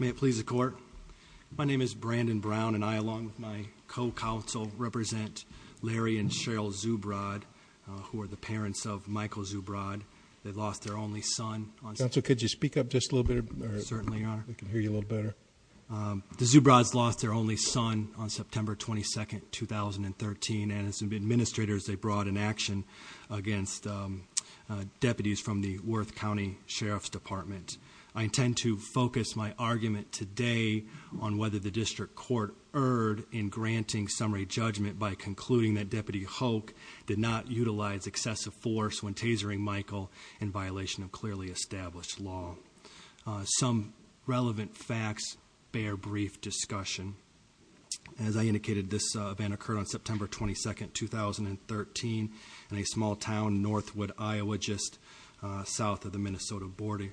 May it please the court, my name is Brandon Brown and I along with my co-counsel represent Larry and Cheryl Zubrod, who are the parents of Michael Zubrod. They lost their only son on September 22, 2013 and as administrators they brought an application against deputies from the Worth County Sheriff's Department. I intend to focus my argument today on whether the district court erred in granting summary judgment by concluding that Deputy Hoch did not utilize excessive force when tasering Michael in violation of clearly established law. Some relevant facts, bare brief discussion. As I indicated, this event occurred on September 22nd, 2013 in a small town, Northwood, Iowa, just south of the Minnesota border.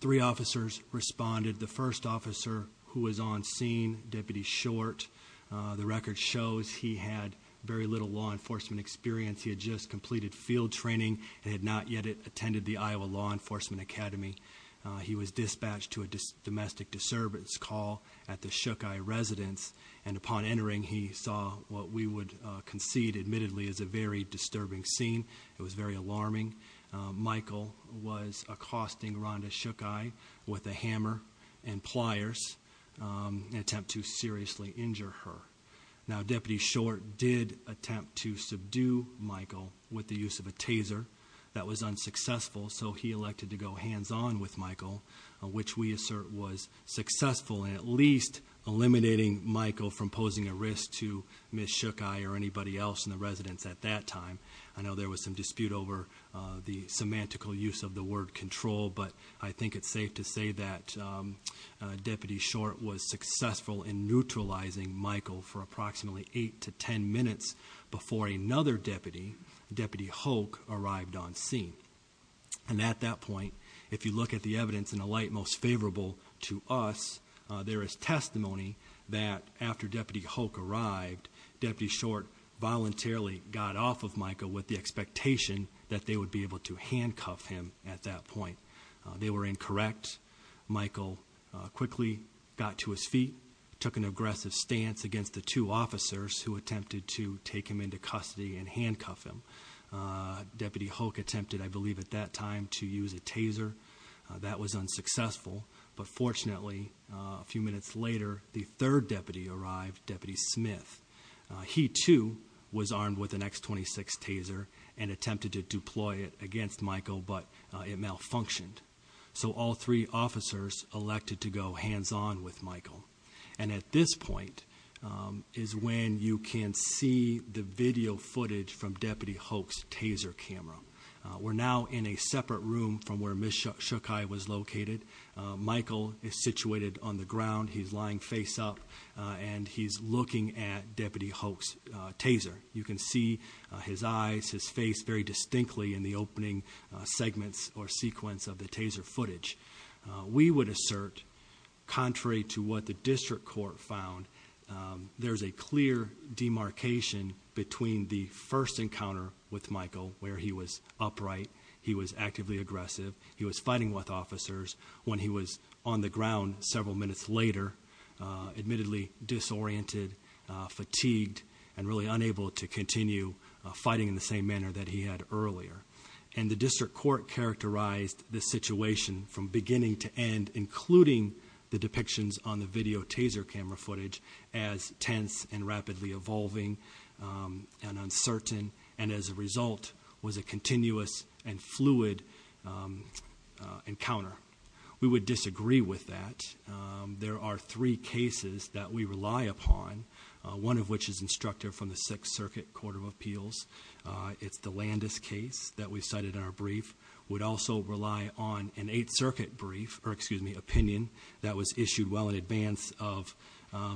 Three officers responded. The first officer who was on scene, Deputy Short. The record shows he had very little law enforcement experience. He had just completed field training and had not yet attended the Iowa Law Enforcement Academy. He was dispatched to a domestic disturbance call at the Shook Eye residence. And upon entering, he saw what we would concede admittedly is a very disturbing scene. It was very alarming. Michael was accosting Rhonda Shook Eye with a hammer and pliers, an attempt to seriously injure her. Now Deputy Short did attempt to subdue Michael with the use of a taser. That was unsuccessful, so he elected to go hands on with Michael, which we assert was successful in at least eliminating Michael from posing a risk to Ms. Shook Eye or anybody else in the residence at that time. I know there was some dispute over the semantical use of the word control, but I think it's safe to say that Deputy Short was successful in neutralizing Michael for approximately eight to ten minutes before another deputy, Deputy Hoke, arrived on scene. And at that point, if you look at the evidence in a light most favorable to us, there is testimony that after Deputy Hoke arrived, Deputy Short voluntarily got off of Michael with the expectation that they would be able to handcuff him at that point. They were incorrect. Michael quickly got to his feet, took an aggressive stance against the two officers who attempted to take him into custody and handcuff him. Deputy Hoke attempted, I believe at that time, to use a taser. That was unsuccessful, but fortunately, a few minutes later, the third deputy arrived, Deputy Smith. He, too, was armed with an X26 taser and attempted to deploy it against Michael, but it malfunctioned. So all three officers elected to go hands-on with Michael. And at this point is when you can see the video footage from Deputy Hoke's taser camera. We're now in a separate room from where Ms. Shukai was located. Michael is situated on the ground, he's lying face up, and he's looking at Deputy Hoke's taser. You can see his eyes, his face very distinctly in the opening segments or sequence of the taser footage. We would assert, contrary to what the district court found, there's a clear demarcation between the first encounter with Michael, where he was upright, he was actively aggressive, he was fighting with officers. When he was on the ground several minutes later, admittedly disoriented, fatigued, and really unable to continue fighting in the same manner that he had earlier. And the district court characterized the situation from beginning to end, including the depictions on the video taser camera footage as tense and rapidly evolving and uncertain, and as a result, was a continuous and fluid encounter. We would disagree with that. There are three cases that we rely upon, one of which is instructive from the Sixth Circuit Court of Appeals. It's the Landis case that we cited in our brief, would also rely on an Eighth Circuit brief, or excuse me, opinion that was issued well in advance of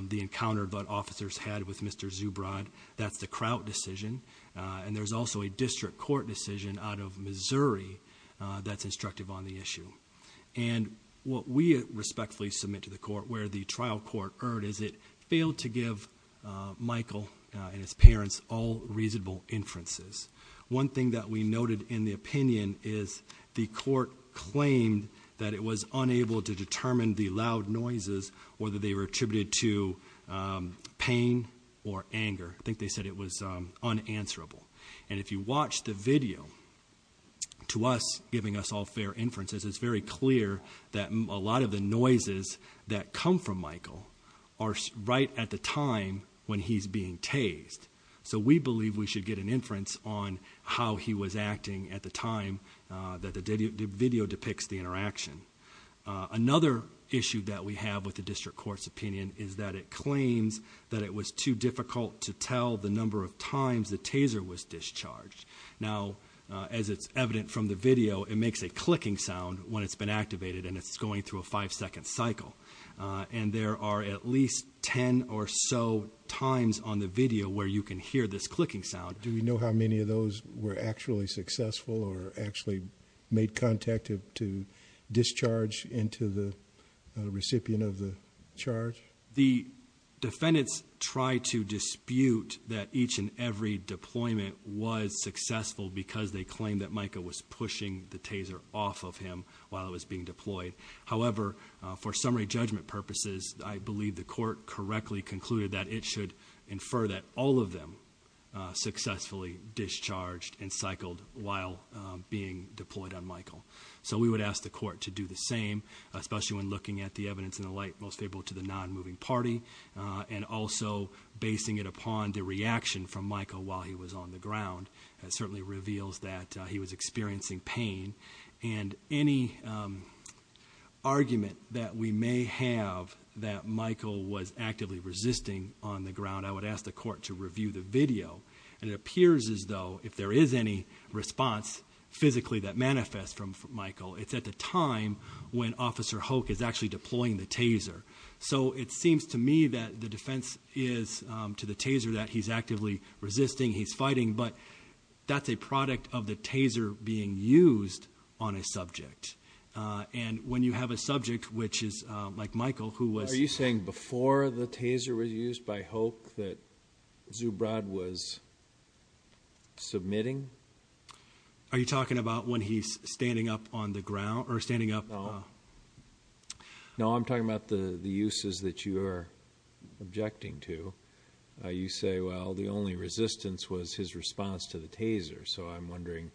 the encounter that officers had with Mr. Zubrod. That's the Crout decision, and there's also a district court decision out of Missouri that's instructive on the issue. And what we respectfully submit to the court, where the trial court erred, is it failed to give Michael and his parents all reasonable inferences. One thing that we noted in the opinion is the court claimed that it was unable to determine the loud noises, whether they were attributed to pain or anger. I think they said it was unanswerable. And if you watch the video, to us, giving us all fair inferences, it's very clear that a lot of the noises that come from Michael are right at the time when he's being tased. So we believe we should get an inference on how he was acting at the time that the video depicts the interaction. Another issue that we have with the district court's opinion is that it claims that it was too difficult to tell the number of times the taser was discharged. Now, as it's evident from the video, it makes a clicking sound when it's been activated and it's going through a five second cycle. And there are at least ten or so times on the video where you can hear this clicking sound. Do we know how many of those were actually successful or actually made contact to discharge into the recipient of the charge? The defendants tried to dispute that each and every deployment was successful because they claimed that Michael was pushing the taser off of him while it was being deployed. However, for summary judgment purposes, I believe the court correctly concluded that it should infer that all of them successfully discharged and cycled while being deployed on Michael. So we would ask the court to do the same, especially when looking at the evidence in the light most favorable to the non-moving party. And also, basing it upon the reaction from Michael while he was on the ground certainly reveals that he was experiencing pain. And any argument that we may have that Michael was actively resisting on the ground, I would ask the court to review the video, and it appears as though if there is any response physically that manifests from Michael, it's at the time when Officer Hoke is actually deploying the taser. So it seems to me that the defense is to the taser that he's actively resisting, he's fighting. But that's a product of the taser being used on a subject. And when you have a subject which is like Michael who was- Are you talking about when he's standing up on the ground, or standing up- No, I'm talking about the uses that you are objecting to. You say, well, the only resistance was his response to the taser. So I'm wondering,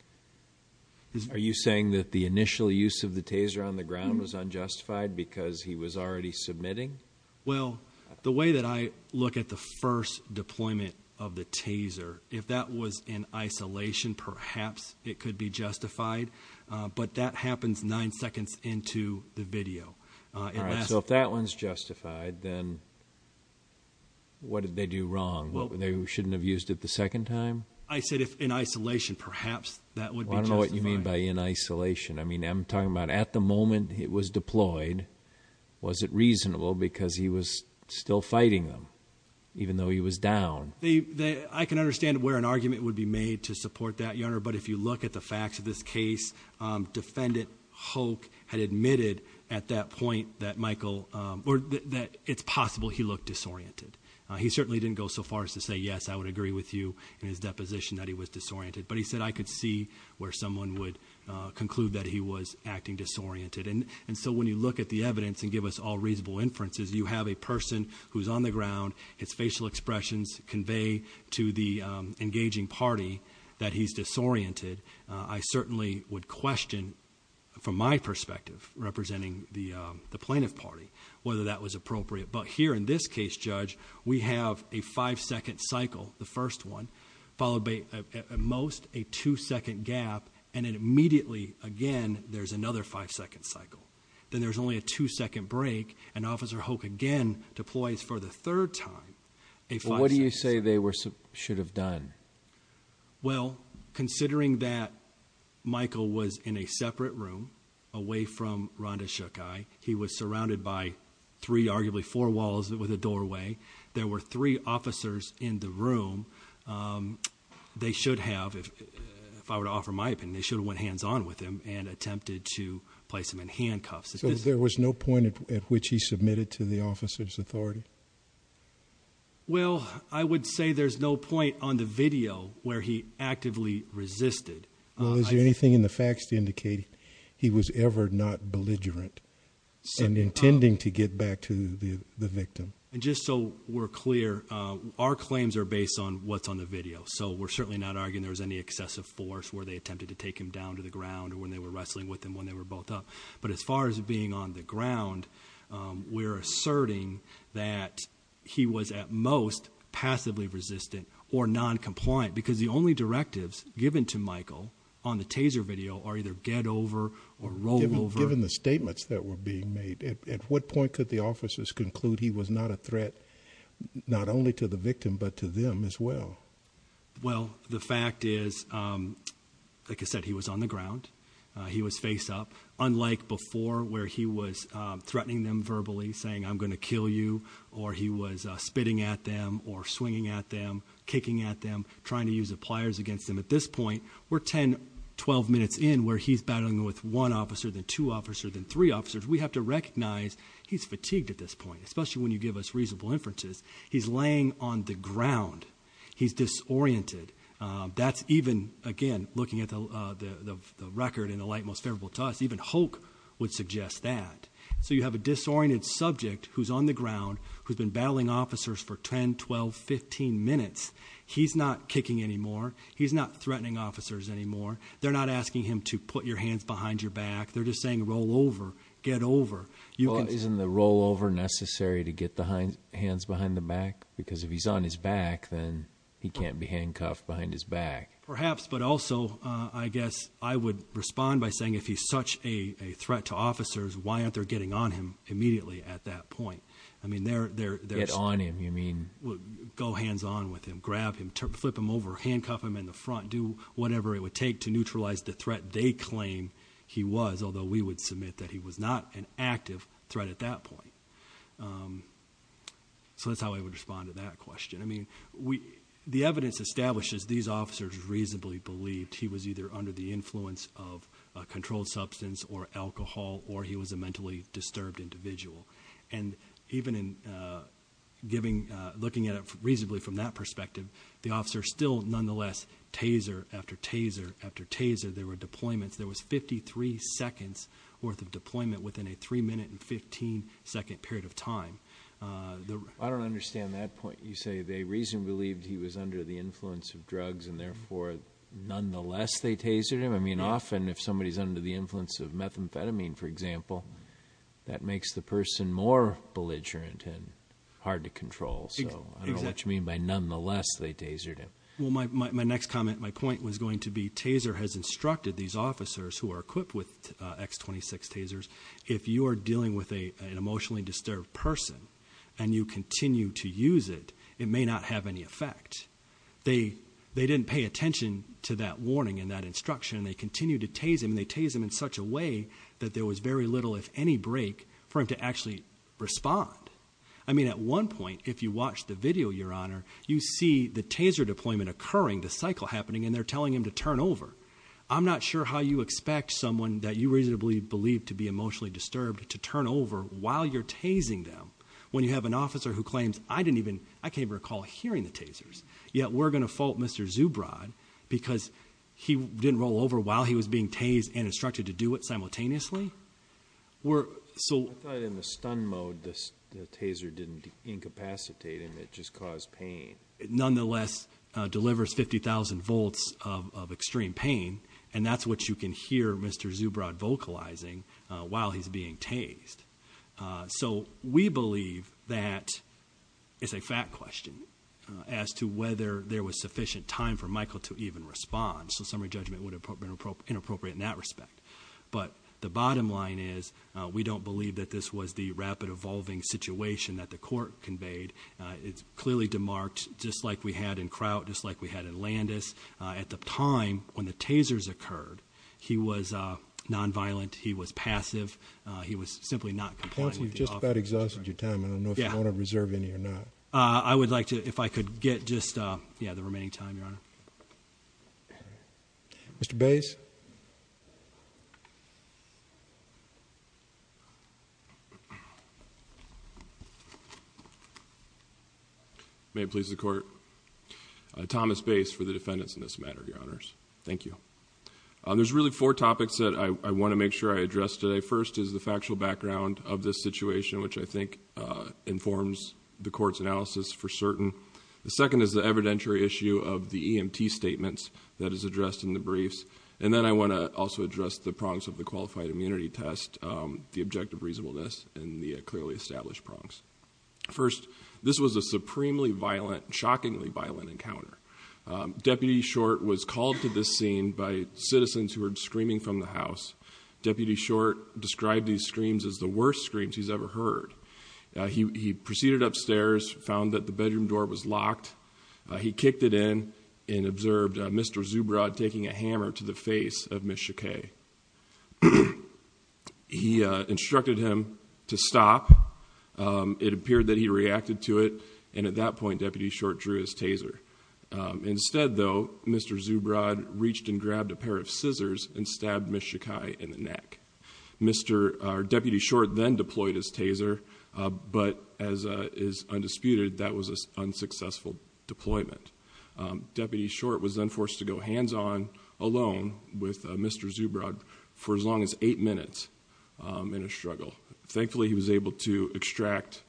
are you saying that the initial use of the taser on the ground was unjustified because he was already submitting? Well, the way that I look at the first deployment of the taser, if that was in isolation, perhaps it could be justified. But that happens nine seconds into the video. All right, so if that one's justified, then what did they do wrong? What, they shouldn't have used it the second time? I said if in isolation, perhaps that would be justified. I don't know what you mean by in isolation. I mean, I'm talking about at the moment it was deployed, was it reasonable because he was still fighting them, even though he was down? I can understand where an argument would be made to support that, Your Honor. But if you look at the facts of this case, Defendant Hoke had admitted at that point that it's possible he looked disoriented. He certainly didn't go so far as to say yes, I would agree with you in his deposition that he was disoriented. But he said I could see where someone would conclude that he was acting disoriented. And so when you look at the evidence and give us all reasonable inferences, you have a person who's on the ground, his facial expressions convey to the engaging party that he's disoriented. I certainly would question, from my perspective, representing the plaintiff party, whether that was appropriate. But here in this case, Judge, we have a five second cycle, the first one, followed by at most a two second gap, and then immediately again, there's another five second cycle. Then there's only a two second break, and Officer Hoke again deploys for the third time. A five second cycle. What do you say they should have done? Well, considering that Michael was in a separate room away from Rhonda Shook Eye, he was surrounded by three, arguably four walls with a doorway. There were three officers in the room, they should have, if I were to offer my opinion, they should have went hands on with him and attempted to place him in handcuffs. So there was no point at which he submitted to the officer's authority? Well, I would say there's no point on the video where he actively resisted. Well, is there anything in the facts to indicate he was ever not belligerent and intending to get back to the victim? Just so we're clear, our claims are based on what's on the video. So we're certainly not arguing there was any excessive force where they attempted to take him down to the ground or when they were wrestling with him when they were both up. But as far as being on the ground, we're asserting that he was at most passively resistant or non-compliant. Because the only directives given to Michael on the taser video are either get over or roll over. Given the statements that were being made, at what point could the officers conclude he was not a threat, not only to the victim, but to them as well? Well, the fact is, like I said, he was on the ground, he was face up. Unlike before, where he was threatening them verbally, saying I'm going to kill you. Or he was spitting at them, or swinging at them, kicking at them, trying to use the pliers against them. At this point, we're ten, 12 minutes in where he's battling with one officer, then two officers, then three officers. We have to recognize he's fatigued at this point, especially when you give us reasonable inferences. He's laying on the ground. He's disoriented. That's even, again, looking at the record in the light most favorable to us, even Hulk would suggest that. So you have a disoriented subject who's on the ground, who's been battling officers for 10, 12, 15 minutes. He's not kicking anymore. He's not threatening officers anymore. They're not asking him to put your hands behind your back. They're just saying roll over, get over. You can- Isn't the roll over necessary to get the hands behind the back? Because if he's on his back, then he can't be handcuffed behind his back. Perhaps, but also, I guess I would respond by saying if he's such a threat to officers, why aren't they getting on him immediately at that point? I mean, they're- Get on him, you mean? Go hands on with him, grab him, flip him over, handcuff him in the front, do whatever it would take to neutralize the threat they claim he was. As although we would submit that he was not an active threat at that point. So that's how I would respond to that question. I mean, the evidence establishes these officers reasonably believed he was either under the influence of a controlled substance or alcohol or he was a mentally disturbed individual. And even in looking at it reasonably from that perspective, the officer still nonetheless taser after taser after taser, there were deployments. There was 53 seconds worth of deployment within a 3 minute and 15 second period of time. I don't understand that point. You say they reasonably believed he was under the influence of drugs and therefore, nonetheless they tasered him. I mean, often if somebody's under the influence of methamphetamine, for example, that makes the person more belligerent and hard to control. So I don't know what you mean by nonetheless they tasered him. Well, my next comment, my point was going to be taser has instructed these officers who are equipped with X26 tasers. If you are dealing with an emotionally disturbed person and you continue to use it, it may not have any effect. They didn't pay attention to that warning and that instruction. They continued to tase him and they tase him in such a way that there was very little, if any, break for him to actually respond. I mean, at one point, if you watch the video, your honor, you see the taser deployment occurring, the cycle happening, and they're telling him to turn over. I'm not sure how you expect someone that you reasonably believe to be emotionally disturbed to turn over while you're tasing them. When you have an officer who claims, I can't even recall hearing the tasers. Yet we're going to fault Mr. Zubrod because he didn't roll over while he was being tased and instructed to do it simultaneously? We're, so- I thought in the stun mode, the taser didn't incapacitate him, it just caused pain. Nonetheless, delivers 50,000 volts of extreme pain, and that's what you can hear Mr. Zubrod vocalizing while he's being tased. So we believe that it's a fact question as to whether there was sufficient time for Michael to even respond. So summary judgment would have been inappropriate in that respect. But the bottom line is, we don't believe that this was the rapid evolving situation that the court conveyed. It's clearly demarked, just like we had in Kraut, just like we had in Landis. At the time when the tasers occurred, he was non-violent, he was passive, he was simply not complying with the officer's- Counsel, you've just about exhausted your time. I don't know if you want to reserve any or not. I would like to, if I could get just, yeah, the remaining time, your honor. Mr. Bays. May it please the court. Thomas Bays for the defendants in this matter, your honors. Thank you. There's really four topics that I want to make sure I address today. First is the factual background of this situation, which I think informs the court's analysis for certain. The second is the evidentiary issue of the EMT statements that is addressed in the briefs. And then I want to also address the prongs of the qualified immunity test, the objective reasonableness, and the clearly established prongs. First, this was a supremely violent, shockingly violent encounter. Deputy Short was called to this scene by citizens who were screaming from the house. Deputy Short described these screams as the worst screams he's ever heard. He proceeded upstairs, found that the bedroom door was locked. He kicked it in and observed Mr. Zubrod taking a hammer to the face of Ms. Shakay. He instructed him to stop, it appeared that he reacted to it. And at that point, Deputy Short drew his taser. Instead though, Mr. Zubrod reached and grabbed a pair of scissors and stabbed Ms. Shakay in the neck. Deputy Short then deployed his taser, but as is undisputed, that was an unsuccessful deployment. Deputy Short was then forced to go hands-on alone with Mr. Zubrod for as long as eight minutes in a struggle. Thankfully, he was able to extract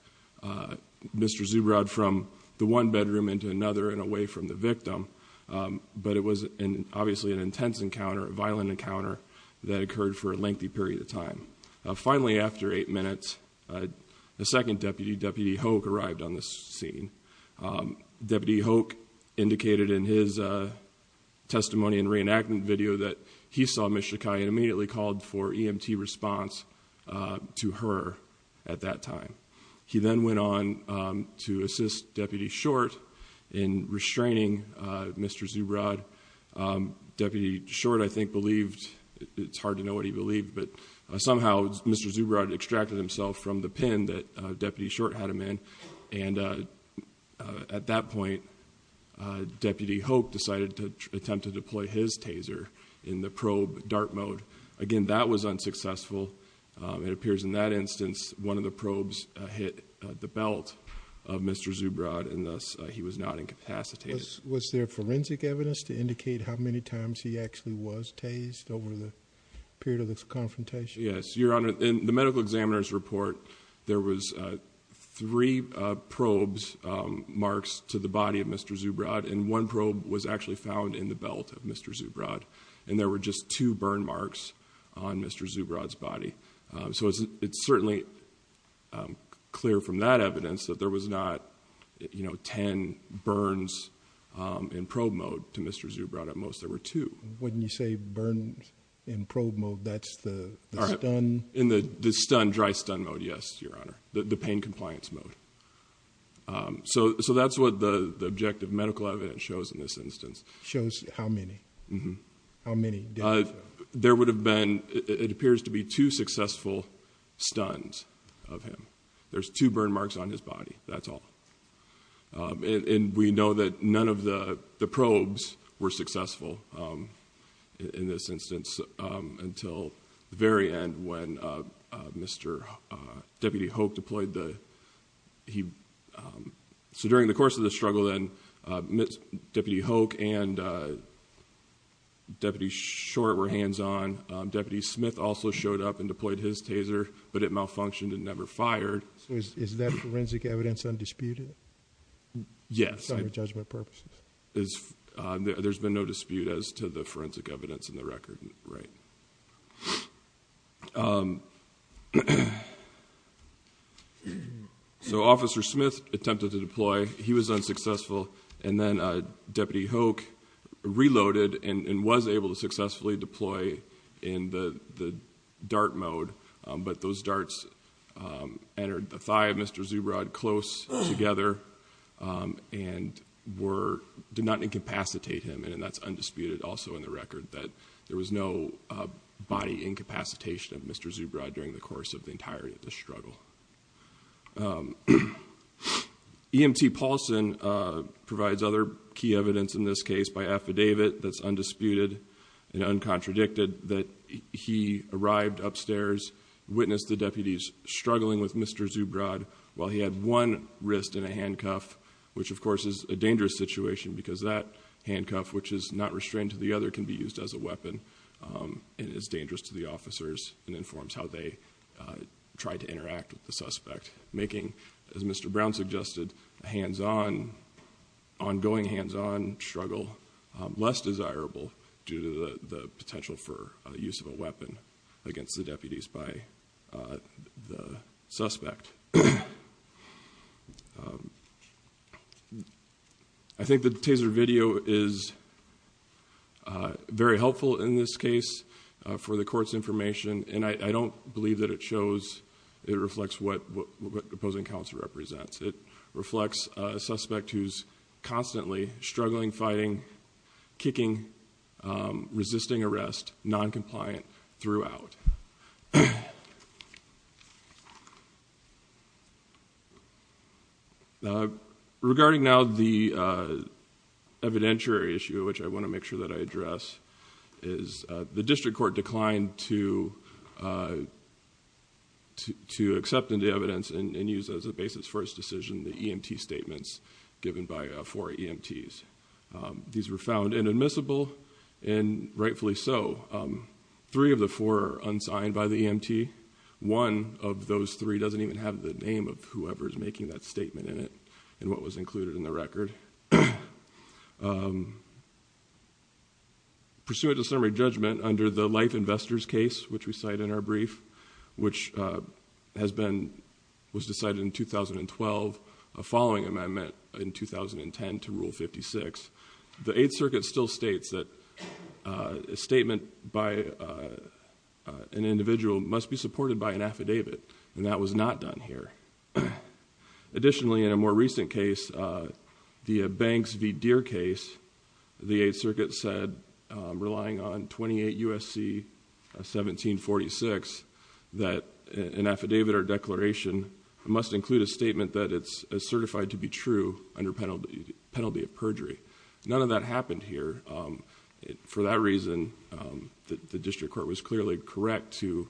Mr. Zubrod from the one bedroom into another and away from the victim. But it was obviously an intense encounter, a violent encounter that occurred for a lengthy period of time. Finally, after eight minutes, a second deputy, Deputy Hoke, arrived on the scene. Deputy Hoke indicated in his testimony and reenactment video that he saw Ms. Shakay and immediately called for EMT response to her at that time. He then went on to assist Deputy Short in restraining Mr. Zubrod. Deputy Short, I think, believed, it's hard to know what he believed, but somehow Mr. Zubrod extracted himself from the pen that Deputy Short had him in. And at that point, Deputy Hoke decided to attempt to deploy his taser in the probe dart mode. Again, that was unsuccessful. It appears in that instance, one of the probes hit the belt of Mr. Zubrod, and thus he was not incapacitated. Was there forensic evidence to indicate how many times he actually was tased over the period of this confrontation? Yes, Your Honor, in the medical examiner's report, there was three probes, marks to the body of Mr. Zubrod, and one probe was actually found in the belt of Mr. Zubrod. And there were just two burn marks on Mr. Zubrod's body. So it's certainly clear from that evidence that there was not ten burns in probe mode to Mr. Zubrod at most, there were two. When you say burns in probe mode, that's the stun? In the stun, dry stun mode, yes, Your Honor, the pain compliance mode. So that's what the objective medical evidence shows in this instance. Shows how many? How many deaths? There would have been, it appears to be two successful stuns of him. There's two burn marks on his body, that's all. And we know that none of the probes were successful in this instance until the very end when Mr. Deputy Hoke deployed the, so during the course of the struggle then, Deputy Hoke and Deputy Short were hands on, Deputy Smith also showed up and deployed his taser, but it malfunctioned and never fired. So is that forensic evidence undisputed? Yes. For judgment purposes. There's been no dispute as to the forensic evidence in the record, right. So Officer Smith attempted to deploy, he was unsuccessful, and then Deputy Hoke reloaded and was able to successfully deploy in the dart mode, but those darts entered the thigh of Mr. Zubrod close together and were, did not incapacitate him, and that's undisputed also in the record, that there was no body incapacitation of Mr. Zubrod during the course of the entirety of the struggle. EMT Paulson provides other key evidence in this case by affidavit that's undisputed and uncontradicted that he arrived upstairs, witnessed the deputies struggling with Mr. Zubrod while he had one wrist in a handcuff, which of course is a dangerous situation because that handcuff which is not restrained to the other can be used as a weapon and is dangerous to the officers and as Mr. Brown suggested, a hands on, ongoing hands on struggle, less desirable due to the potential for use of a weapon against the deputies by the suspect. I think the taser video is very helpful in this case for the court's information and I don't believe that it shows, it reflects what the opposing counsel represents. It reflects a suspect who's constantly struggling, fighting, kicking, resisting arrest, non-compliant throughout. Regarding now the evidentiary issue which I want to make sure that I address is the district court declined to accept into evidence and use as a basis for its decision the EMT statements given by four EMTs. These were found inadmissible and rightfully so. Three of the four are unsigned by the EMT. One of those three doesn't even have the name of whoever's making that statement in it and what was included in the record. Pursuant to summary judgment under the life investors case, which we cite in our brief, which has been, was decided in 2012, a following amendment in 2010 to Rule 56, the Eighth Circuit still states that a statement by an individual must be supported by an affidavit and that was not done here. Additionally, in a more recent case, the Banks v. Relying on 28 USC 1746, that an affidavit or declaration must include a statement that it's certified to be true under penalty of perjury. None of that happened here. For that reason, the district court was clearly correct to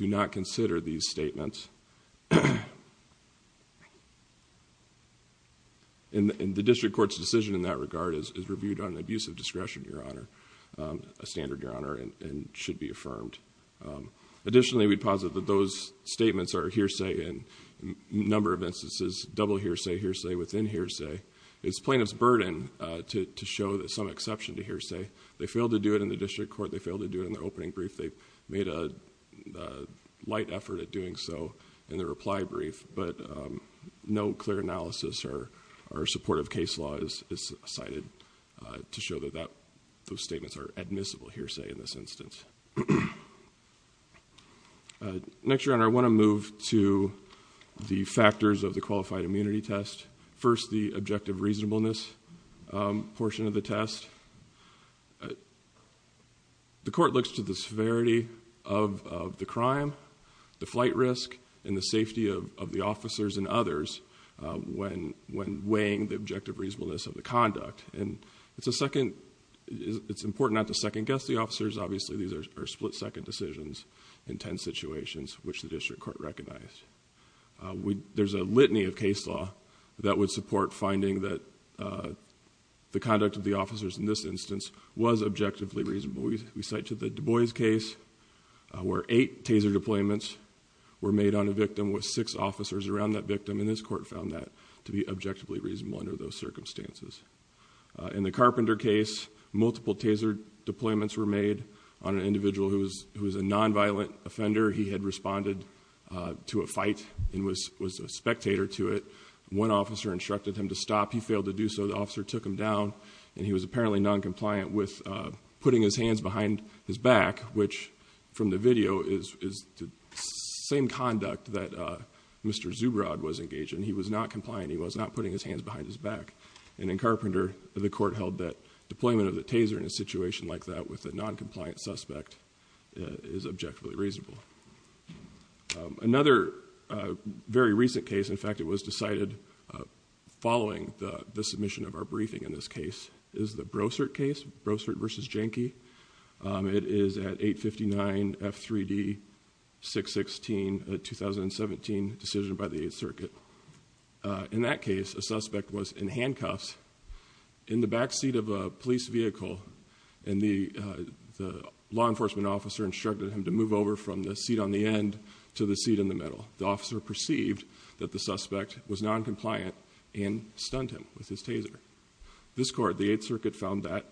not consider these statements. And the district court's decision in that regard is reviewed on an abusive discretion, your honor, a standard, your honor, and should be affirmed. Additionally, we posit that those statements are hearsay in a number of instances, double hearsay, hearsay within hearsay. It's plaintiff's burden to show that some exception to hearsay. They failed to do it in the district court. They failed to do it in their opening brief. They've made a light effort at doing so in the reply brief. But no clear analysis or supportive case law is cited to show that those statements are admissible hearsay in this instance. Next, your honor, I want to move to the factors of the qualified immunity test. First, the objective reasonableness portion of the test. The court looks to the severity of the crime, the flight risk, and the safety of the officers and others when weighing the objective reasonableness of the conduct. And it's important not to second guess the officers. Obviously, these are split second decisions in ten situations, which the district court recognized. There's a litany of case law that would support finding that the conduct of the officers in this instance was objectively reasonable. We cite to the Du Bois case where eight taser deployments were made on a victim with six officers around that victim. And this court found that to be objectively reasonable under those circumstances. In the Carpenter case, multiple taser deployments were made on an individual who was a non-violent offender. Later, he had responded to a fight and was a spectator to it. One officer instructed him to stop. He failed to do so. The officer took him down, and he was apparently non-compliant with putting his hands behind his back, which from the video is the same conduct that Mr. Zubrod was engaged in. He was not compliant. He was not putting his hands behind his back. And in Carpenter, the court held that deployment of the taser in a situation like that with a non-compliant suspect is objectively reasonable. Another very recent case, in fact, it was decided following the submission of our briefing in this case, is the Brossert case, Brossert versus Jenke. It is at 859 F3D 616, a 2017 decision by the Eighth Circuit. In that case, a suspect was in handcuffs in the backseat of a police vehicle. And the law enforcement officer instructed him to move over from the seat on the end to the seat in the middle. The officer perceived that the suspect was non-compliant and stunned him with his taser. This court, the Eighth Circuit, found that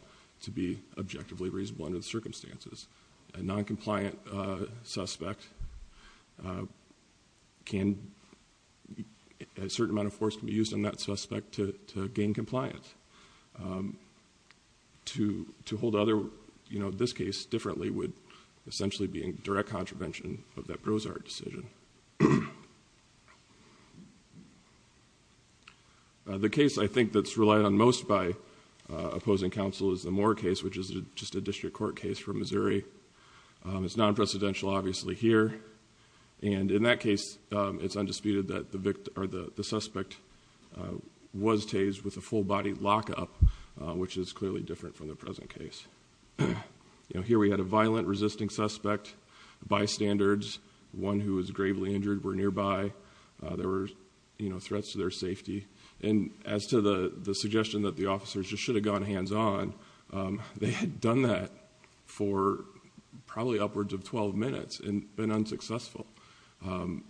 to be objectively reasonable under the circumstances. A non-compliant suspect, a certain amount of force can be used on that suspect to gain compliance. To hold this case differently would essentially be in direct contravention of that Brossert decision. The case I think that's relied on most by opposing counsel is the Moore case, which is just a district court case from Missouri. It's non-presidential, obviously, here. And in that case, it's undisputed that the suspect was tased with a full body lockup, which is clearly different from the present case. Here we had a violent resisting suspect, bystanders, one who was gravely injured were nearby. There were threats to their safety. And as to the suggestion that the officers just should have gone hands on, they had done that for probably upwards of 12 minutes and been unsuccessful. And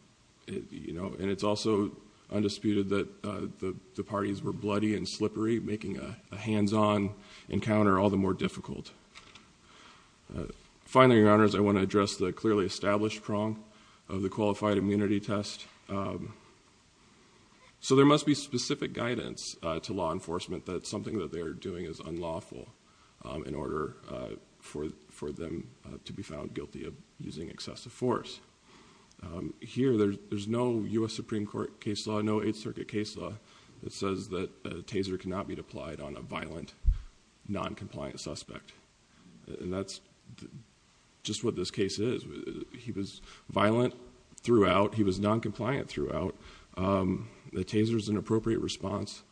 it's also undisputed that the parties were bloody and slippery, making a hands-on encounter all the more difficult. Finally, your honors, I want to address the clearly established prong of the qualified immunity test. So there must be specific guidance to law enforcement that something that they are doing is unlawful. In order for them to be found guilty of using excessive force. Here, there's no US Supreme Court case law, no 8th Circuit case law, that says that a taser cannot be applied on a violent non-compliant suspect. And that's just what this case is. He was violent throughout. He was non-compliant throughout. The taser's an appropriate response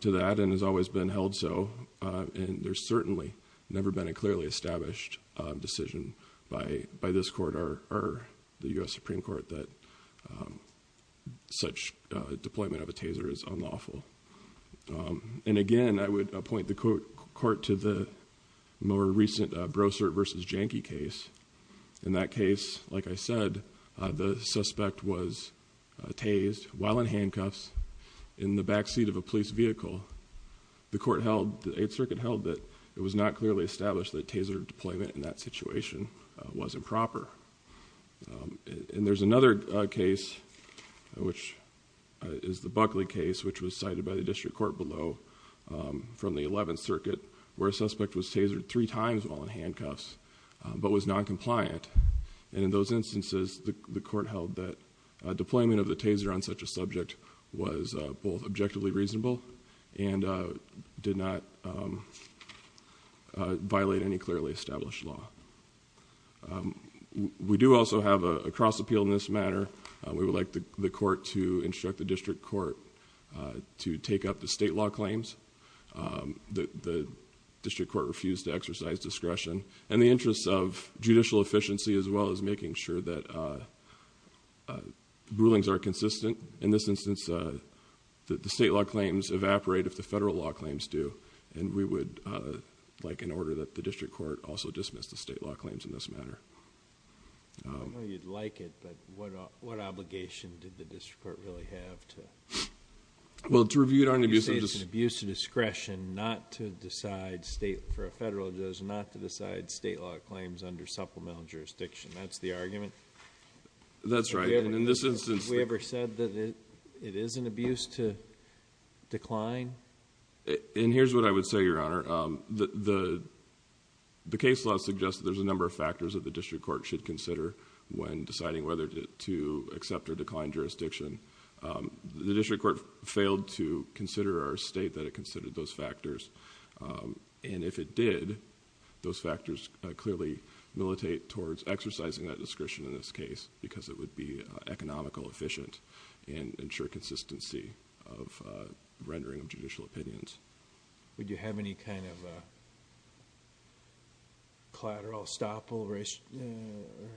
to that and has always been held so. And there's certainly never been a clearly established decision by this court or the US Supreme Court that such deployment of a taser is unlawful. And again, I would appoint the court to the more recent Brossard versus Janky case. In that case, like I said, the suspect was tased while in handcuffs in the back seat of a police vehicle. The court held, the 8th Circuit held that it was not clearly established that taser deployment in that situation was improper. And there's another case, which is the Buckley case, which was cited by the district court below from the 11th Circuit, where a suspect was tasered three times while in handcuffs. But was non-compliant. And in those instances, the court held that deployment of the taser on such a subject was both objectively reasonable and did not violate any clearly established law. We do also have a cross appeal in this matter. We would like the court to instruct the district court to take up the state law claims. The district court refused to exercise discretion. In the interest of judicial efficiency, as well as making sure that rulings are consistent. In this instance, the state law claims evaporate if the federal law claims do. And we would like an order that the district court also dismiss the state law claims in this matter. I know you'd like it, but what obligation did the district court really have to- Decide state law claims under supplemental jurisdiction, that's the argument? That's right, and in this instance- We ever said that it is an abuse to decline? And here's what I would say, your honor. The case law suggests there's a number of factors that the district court should consider when deciding whether to accept or decline jurisdiction. The district court failed to consider or state that it considered those factors. And if it did, those factors clearly militate towards exercising that discretion in this case. Because it would be economical, efficient, and ensure consistency of rendering of judicial opinions. Would you have any kind of collateral estoppel, or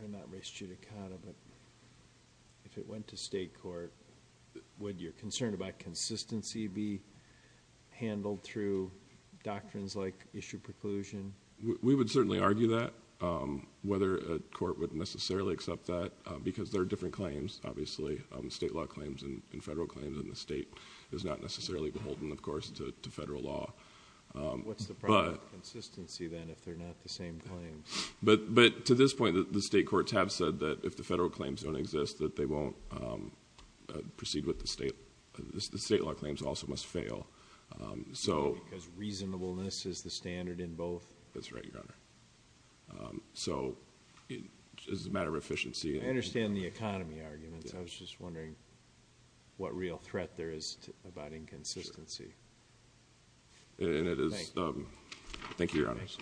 not res judicata, but if it went to state court, would your concern about consistency be handled through doctrines like issue preclusion? We would certainly argue that, whether a court would necessarily accept that, because there are different claims. Obviously, state law claims and federal claims in the state is not necessarily beholden, of course, to federal law. What's the problem with consistency, then, if they're not the same claims? But to this point, the state courts have said that if the federal claims don't exist, that they won't proceed with the state, the state law claims also must fail, so. Because reasonableness is the standard in both? That's right, your honor. So, it's a matter of efficiency. I understand the economy argument, so I was just wondering what real threat there is about inconsistency. And it is, thank you, your honors.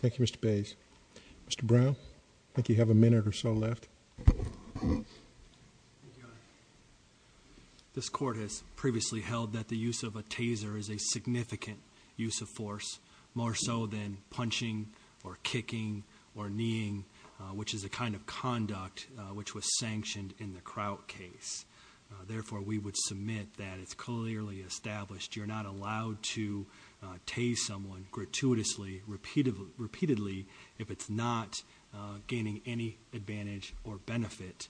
Thank you, Mr. Bays. Mr. Brown, I think you have a minute or so left. Thank you, your honor. This court has previously held that the use of a taser is a significant use of force, more so than punching, or kicking, or kneeing, which is a kind of conduct which was sanctioned in the Crout case. Therefore, we would submit that it's clearly established you're not allowed to tase someone gratuitously, repeatedly, if it's not gaining any advantage or benefit.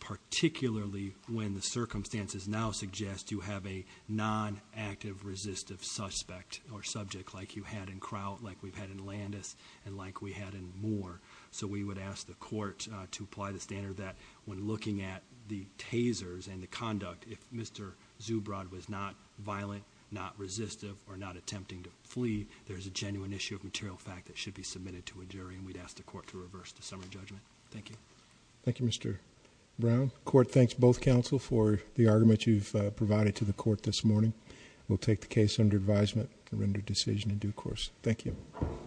Particularly when the circumstances now suggest you have a non-active resistive suspect or subject like you had in Crout, like we've had in Landis, and like we had in Moore. So we would ask the court to apply the standard that when looking at the tasers and the conduct, if Mr. Zubrod was not violent, not resistive, or not attempting to flee, there's a genuine issue of material fact that should be submitted to a jury, and we'd ask the court to reverse the summary judgment. Thank you. Thank you, Mr. Brown. Court thanks both counsel for the argument you've provided to the court this morning. We'll take the case under advisement to render decision in due course. Thank you.